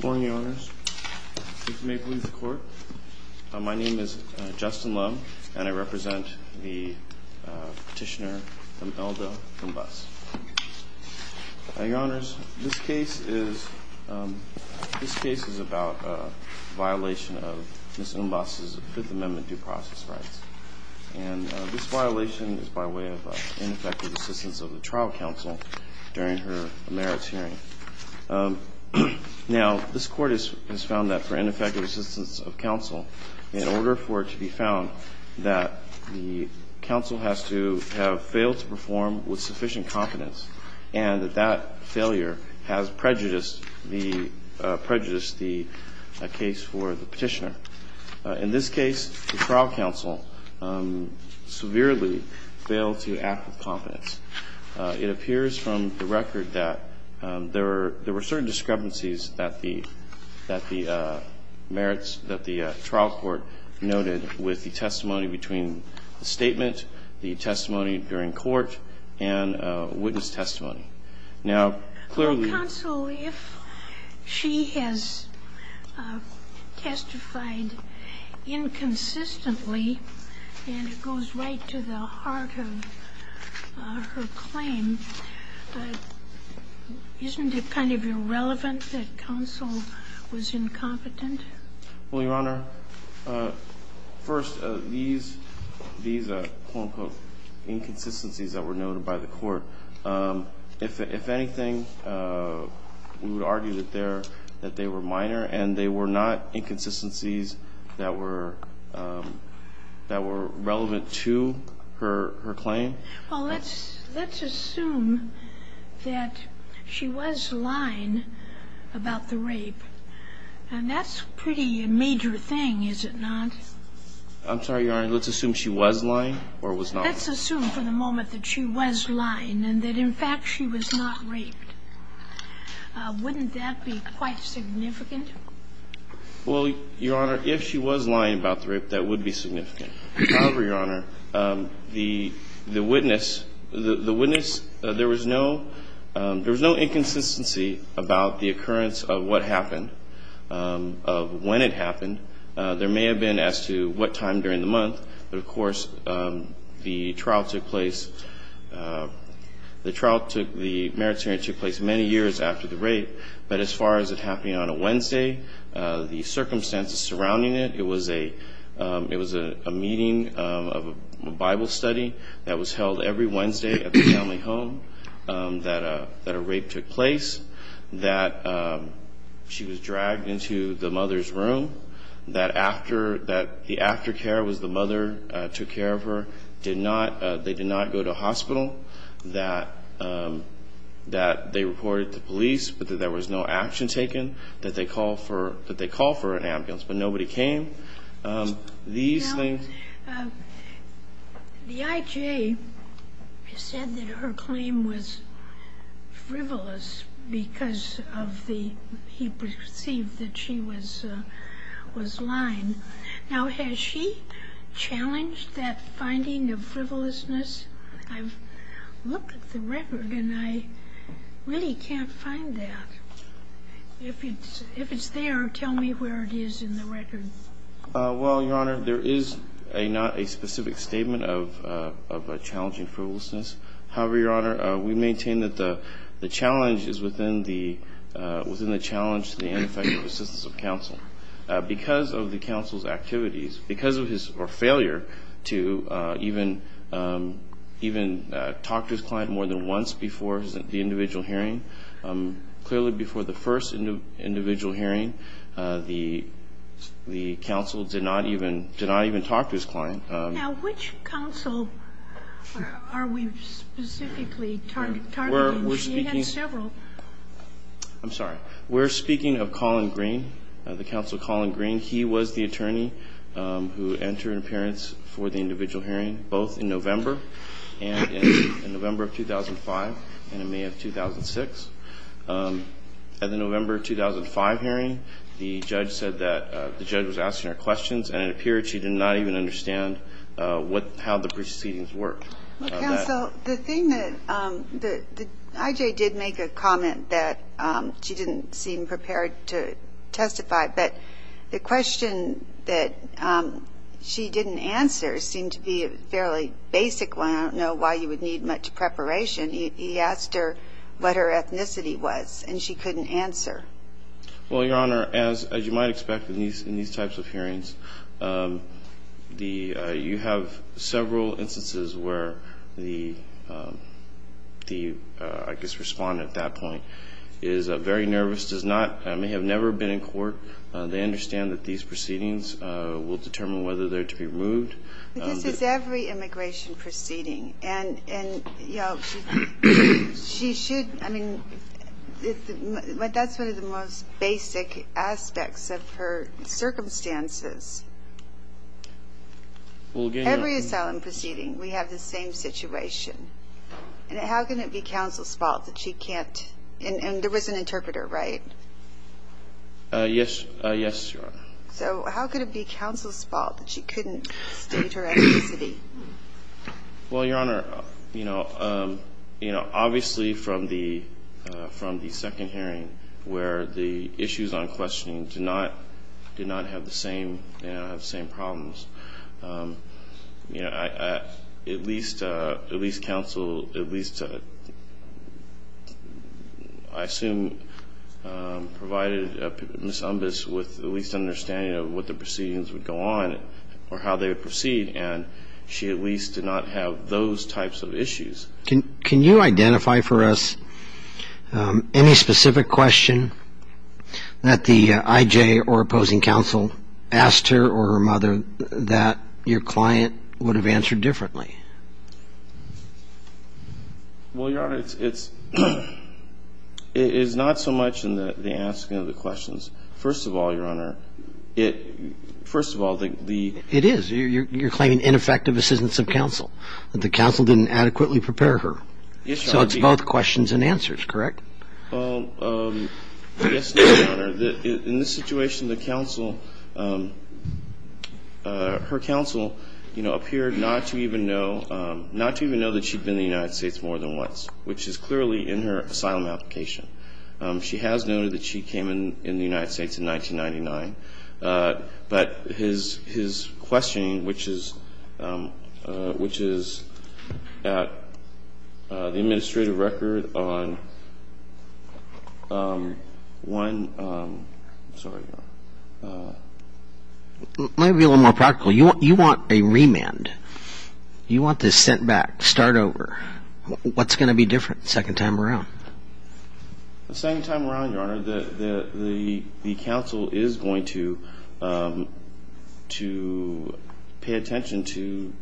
Good morning, Your Honors. My name is Justin Lowe, and I represent the petitioner, Imelda Umbas. Your Honors, this case is about a violation of Ms. Umbas' Fifth Amendment due process rights. This violation is by way of ineffective assistance of the trial counsel during her merits hearing. Now, this Court has found that for ineffective assistance of counsel, in order for it to be found, that the counsel has to have failed to perform with sufficient confidence, and that that failure has prejudiced the case for the petitioner. In this case, the trial counsel severely failed to act with confidence. It appears from the record that there were certain discrepancies that the merits that the trial court noted with the testimony between the statement, the testimony during court, and witness testimony. Now, clearly the counsel if she has testified inconsistently, and it goes right to the point of her claim, isn't it kind of irrelevant that counsel was incompetent? Well, Your Honor, first, these quote-unquote inconsistencies that were noted by the court, if anything, we would argue that they were minor, and they were not inconsistencies that were relevant to her claim. Well, let's assume that she was lying about the rape, and that's a pretty major thing, is it not? I'm sorry, Your Honor. Let's assume she was lying or was not. Let's assume for the moment that she was lying and that, in fact, she was not raped. Wouldn't that be quite significant? Well, Your Honor, if she was lying about the rape, that would be significant. However, Your Honor, the witness, the witness, there was no inconsistency about the occurrence of what happened, of when it happened. There may have been as to what time during the month, but, of course, the trial took place, the trial took the merits hearing took place many years after the rape, but as far as it happening on a Wednesday, the circumstances surrounding it, it was a meeting of a Bible study that was held every Wednesday at the family home that a rape took place, that she was dragged into the mother's room, that the aftercare was the mother took care of her, they did not go to hospital, that they reported to police, but that there was no action taken, that they called for an ambulance, but nobody came. Now, the I.J. said that her claim was frivolous because of the, he perceived that she was lying. Now, has she challenged that finding of frivolousness? I've looked at the record and I really can't find that. If it's there, tell me where it is in the record. Well, Your Honor, there is not a specific statement of a challenging frivolousness. However, Your Honor, we maintain that the challenge is within the challenge to the ineffective assistance of counsel. Because of the counsel's activities, because of his failure to even talk to his client more than once before the individual hearing, clearly before the first individual hearing, the counsel did not even talk to his client. Now, which counsel are we specifically targeting? He had several. I'm sorry. We're speaking of Colin Green, the counsel Colin Green. He was the attorney who entered an appearance for the individual hearing, both in 2005 and in May of 2006. At the November 2005 hearing, the judge said that the judge was asking her questions and it appeared she did not even understand how the proceedings worked. Counsel, the thing that the I.J. did make a comment that she didn't seem prepared to testify, but the question that she didn't answer seemed to be a fairly basic one. I don't know why you would need much preparation. He asked her what her ethnicity was and she couldn't answer. Well, Your Honor, as you might expect in these types of hearings, the you have several instances where the, I guess, Respondent at that point is very nervous, does not, may have never been in court. They understand that these proceedings will determine whether they're to be removed. This is every immigration proceeding and, you know, she should, I mean, that's one of the most basic aspects of her circumstances. Every asylum proceeding, we have the same situation. How can it be counsel's fault that she can't, and there was an interpreter, right? Yes, Your Honor. So how could it be counsel's fault that she couldn't state her ethnicity? Well, Your Honor, you know, obviously from the second hearing where the issues on questioning did not have the same problems, you know, at least counsel, at least I assume provided Ms. Umbas with at least an understanding of what the proceedings would go on or how they would proceed and she at least did not have those types of issues. Can you identify for us any specific question that the IJ or opposing counsel asked her or her mother that your client would have answered differently? Well, Your Honor, it's not so much in the asking of the questions. First of all, Your Honor, it, first of all, the. It is. You're claiming ineffective assistance of counsel, that the counsel didn't adequately prepare her. Yes, Your Honor. So it's both questions and answers, correct? Yes, Your Honor. In this situation, the counsel, her counsel, you know, appeared not to even know, not to even know that she'd been in the United States more than once, which is clearly in her asylum application. She has noted that she came in the United States in 1999. But his questioning, which is at the administrative record on one. Sorry, Your Honor. Might be a little more practical. You want a remand. You want this sent back, start over. What's going to be different the second time around? The second time around, Your Honor, the counsel is going to pay attention to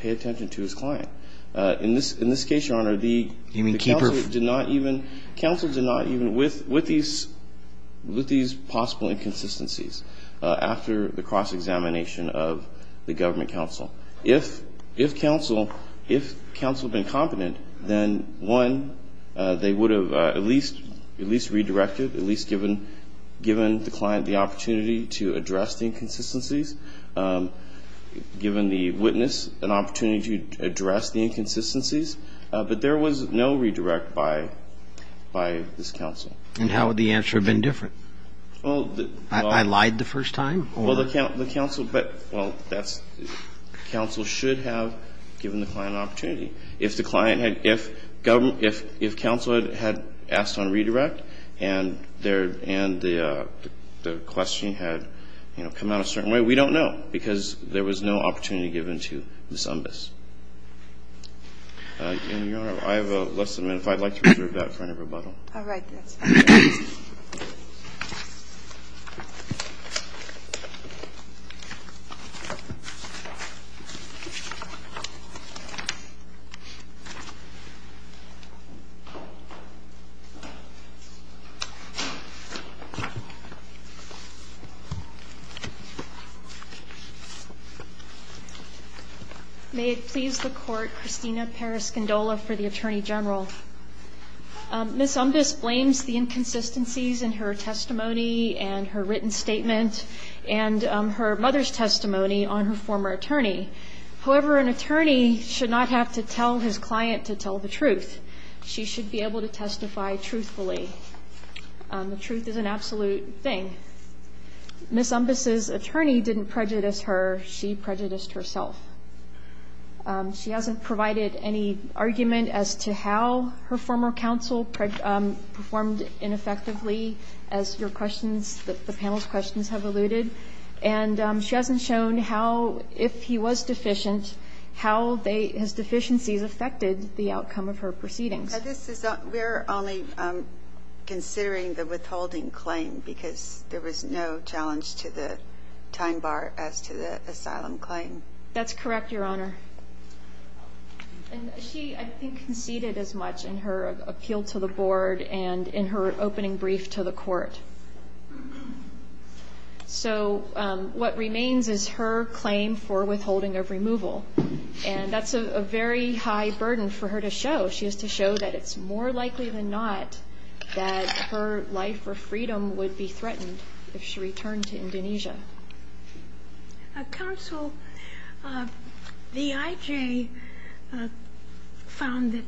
his client. In this case, Your Honor, the. You mean keep her. Counsel did not even, with these possible inconsistencies, after the cross-examination of the government counsel. If counsel had been competent, then, one, they would have at least redirected, at least given the client the opportunity to address the inconsistencies, given the witness an opportunity to address the inconsistencies. But there was no redirect by this counsel. And how would the answer have been different? I lied the first time? Well, the counsel, but, well, that's, counsel should have given the client an opportunity. If the client had, if counsel had asked on redirect and the question had, you know, come out a certain way, we don't know, because there was no opportunity given to Ms. Umbas. And, Your Honor, I have less than a minute. If I'd like to reserve that for any rebuttal. All right. Yes. May it please the Court. Christina Paras-Gondola for the Attorney General. Ms. Umbas blames the inconsistencies in her testimony and her written statement and her mother's testimony on her former attorney. However, an attorney should not have to tell his client to tell the truth. She should be able to testify truthfully. The truth is an absolute thing. Ms. Umbas' attorney didn't prejudice her. She prejudiced herself. She hasn't provided any argument as to how her former counsel performed ineffectively, as your questions, the panel's questions have alluded. And she hasn't shown how, if he was deficient, how his deficiencies affected the outcome of her proceedings. We're only considering the withholding claim because there was no challenge to the time bar as to the asylum claim. That's correct, Your Honor. And she, I think, conceded as much in her appeal to the board and in her opening brief to the court. So what remains is her claim for withholding of removal. And that's a very high burden for her to show. She has to show that it's more likely than not that her life or freedom would be threatened if she returned to Indonesia. Counsel, the IJ found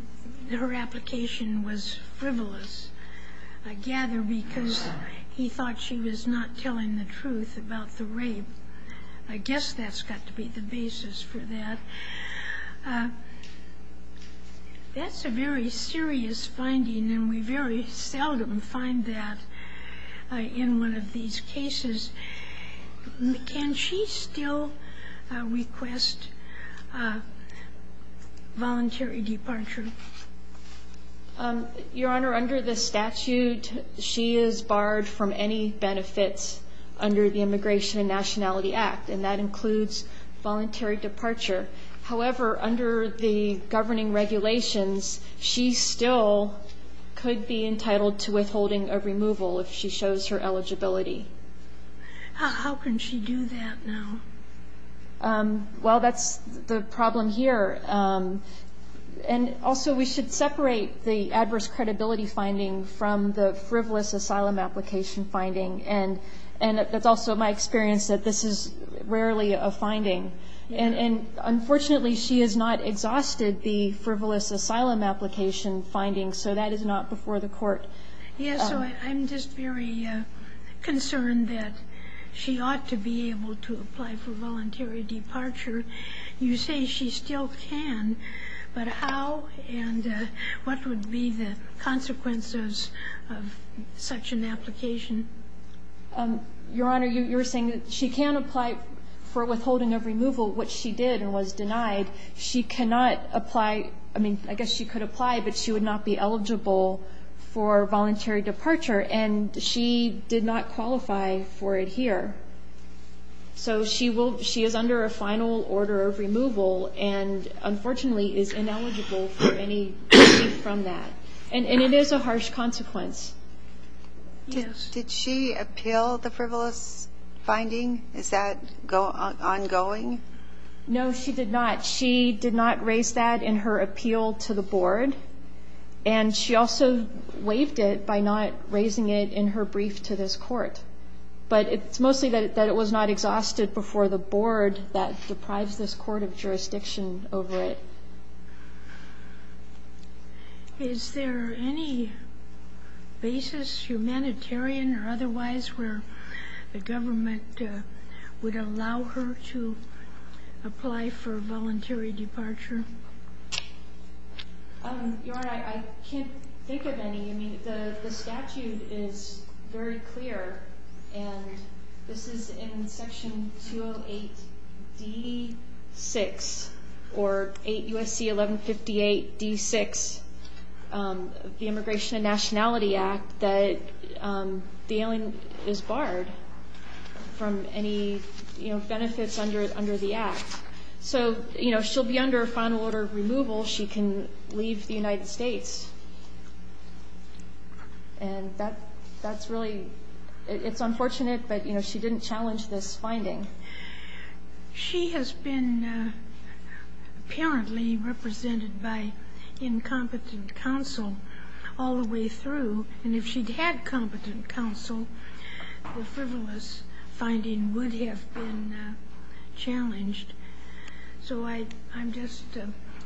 that her application was frivolous, I gather, because he thought she was not telling the truth about the rape. I guess that's got to be the basis for that. That's a very serious finding, and we very seldom find that in one of these cases. Can she still request voluntary departure? Your Honor, under the statute, she is barred from any benefits under the Immigration and Nationality Act, and that includes voluntary departure. However, under the governing regulations, she still could be entitled to withholding of removal if she shows her eligibility. How can she do that now? Well, that's the problem here. And also, we should separate the adverse credibility finding from the frivolous asylum application finding, and it's also my experience that this is rarely a finding. And unfortunately, she has not exhausted the frivolous asylum application finding, so that is not before the court. Yes, so I'm just very concerned that she ought to be able to apply for voluntary departure. You say she still can, but how and what would be the consequences of such an application? Your Honor, you were saying that she can apply for withholding of removal, which she did and was denied. She cannot apply – I mean, I guess she could apply, but she would not be eligible for voluntary departure, and she did not qualify for it here. So she will – she is under a final order of removal and, unfortunately, is ineligible for any relief from that. And it is a harsh consequence. Yes. Did she appeal the frivolous finding? Is that ongoing? No, she did not. She did not raise that in her appeal to the board, and she also waived it by not raising it in her brief to this court. But it's mostly that it was not exhausted before the board that deprives this court of jurisdiction over it. Is there any basis, humanitarian or otherwise, where the government would allow her to apply for voluntary departure? Your Honor, I can't think of any. I mean, the statute is very clear, and this is in Section 208D-6, or 8 U.S.C. 1158-D-6, the Immigration and Nationality Act, that the alien is barred from any benefits under the act. So, you know, she'll be under a final order of removal. She can leave the United States. And that's really – it's unfortunate, but, you know, she didn't challenge this finding. She has been apparently represented by incompetent counsel all the way through. And if she'd had competent counsel, the frivolous finding would have been challenged. So I'm just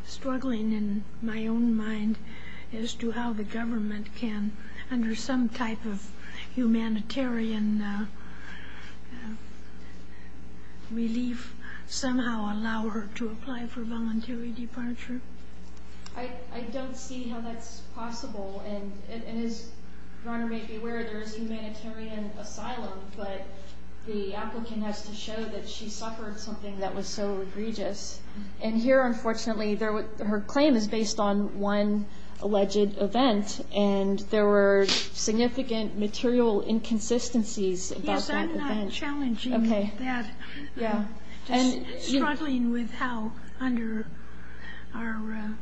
struggling in my own mind as to how the government can, under some type of humanitarian relief, somehow allow her to apply for voluntary departure. I don't see how that's possible. And as Your Honor may be aware, there is humanitarian asylum, but the applicant has to show that she suffered something that was so egregious. And here, unfortunately, her claim is based on one alleged event, and there were significant material inconsistencies about that event. I'm challenging that, struggling with how, under our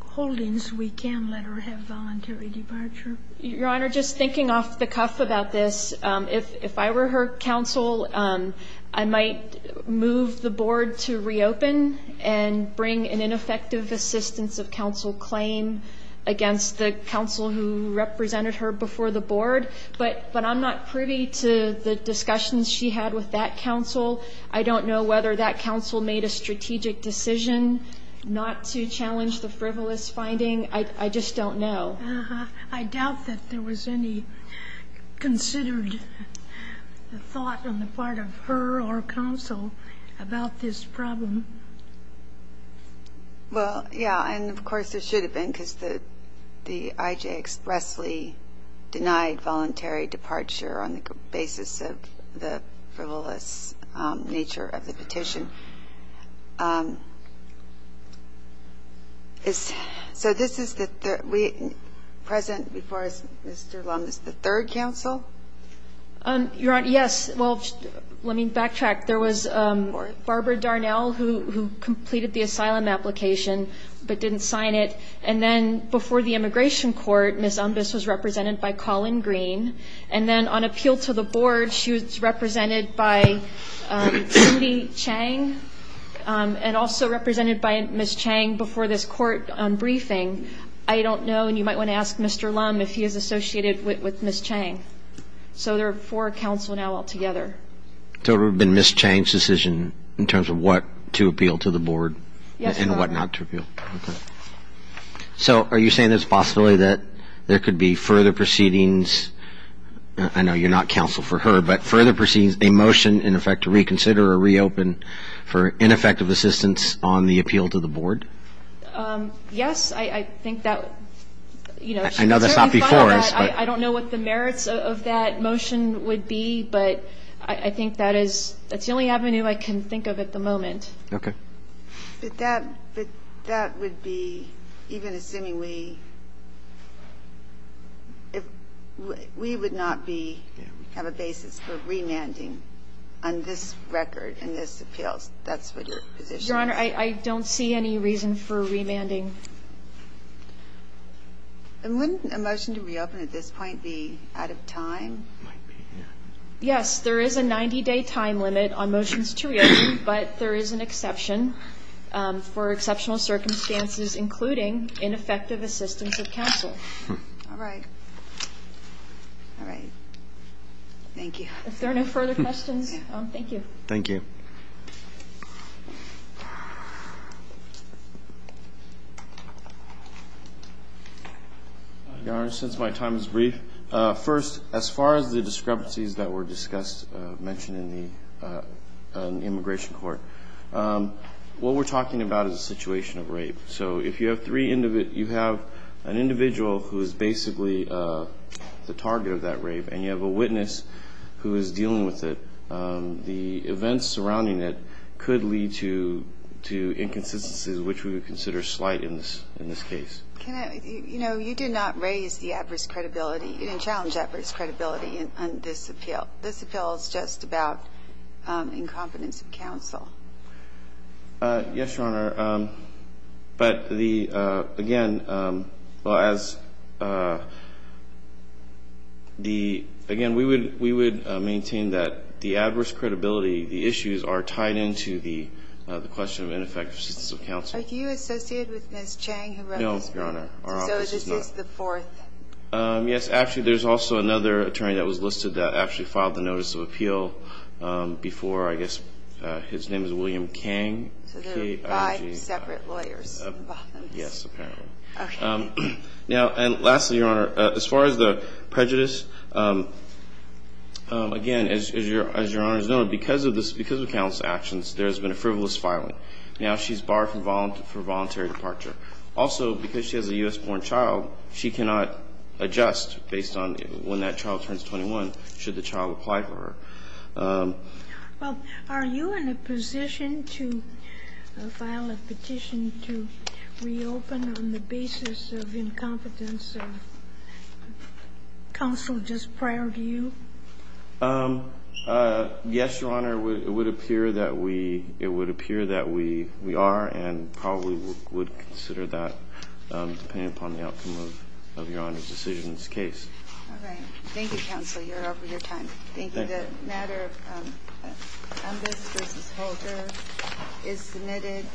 holdings, we can let her have voluntary departure. Your Honor, just thinking off the cuff about this, if I were her counsel, I might move the board to reopen and bring an ineffective assistance of counsel claim against the counsel who represented her before the board. But I'm not privy to the discussions she had with that counsel. I don't know whether that counsel made a strategic decision not to challenge the frivolous finding. I just don't know. Uh-huh. I doubt that there was any considered thought on the part of her or counsel about this problem. Well, yeah, and of course there should have been, because the I.J. expressly denied voluntary departure on the basis of the frivolous nature of the petition. So this is the third we present before us, Mr. Lummis, the third counsel? Your Honor, yes. Well, let me backtrack. There was Barbara Darnell who completed the asylum application but didn't sign it. And then before the immigration court, Ms. Umbas was represented by Colin Green. And then on appeal to the board, she was represented by Judy Chang, and also represented by Ms. Chang before this court briefing. I don't know, and you might want to ask Mr. Lummis if he is associated with Ms. Chang. So there are four counsel now altogether. So it would have been Ms. Chang's decision in terms of what to appeal to the board and what not to appeal. Yes, Your Honor. Okay. So are you saying there's a possibility that there could be further proceedings, I know you're not counsel for her, but further proceedings, a motion, in effect, to reconsider or reopen for ineffective assistance on the appeal to the board? Yes, I think that, you know. I know that's not before us. I don't know what the merits of that motion would be, but I think that is the only avenue I can think of at the moment. Okay. But that would be even assuming we would not have a basis for remanding on this record and this appeal. That's what your position is? Your Honor, I don't see any reason for remanding. And wouldn't a motion to reopen at this point be out of time? Yes, there is a 90-day time limit on motions to reopen, but there is an exception for exceptional circumstances, including ineffective assistance of counsel. All right. All right. Thank you. If there are no further questions, thank you. Thank you. Your Honor, since my time is brief, first, as far as the discrepancies that were discussed, mentioned in the immigration court, what we're talking about is a situation of rape. So if you have an individual who is basically the target of that rape and you have a witness who is dealing with it, the events surrounding it could lead to inconsistencies, which we would consider slight in this case. You know, you did not raise the adverse credibility. You didn't challenge adverse credibility on this appeal. This appeal is just about incompetence of counsel. Yes, Your Honor. But, again, we would maintain that the adverse credibility, the issues are tied into the question of ineffective assistance of counsel. Are you associated with Ms. Chang? No, Your Honor. So this is the fourth? Yes. Actually, there's also another attorney that was listed that actually filed the notice of appeal before, I guess, his name is William Kang. So there are five separate lawyers involved? Yes, apparently. Okay. Now, and lastly, Your Honor, as far as the prejudice, again, as Your Honor is aware, because of counsel's actions, there has been a frivolous filing. Now she's barred for voluntary departure. Also, because she has a U.S.-born child, she cannot adjust based on when that child turns 21, should the child apply for her. Well, are you in a position to file a petition to reopen on the basis of incompetence of counsel just prior to you? Yes, Your Honor. It would appear that we are and probably would consider that, depending upon the outcome of Your Honor's decision in this case. All right. Thank you, counsel. You're over your time. Thank you. The matter on this versus Holder is submitted.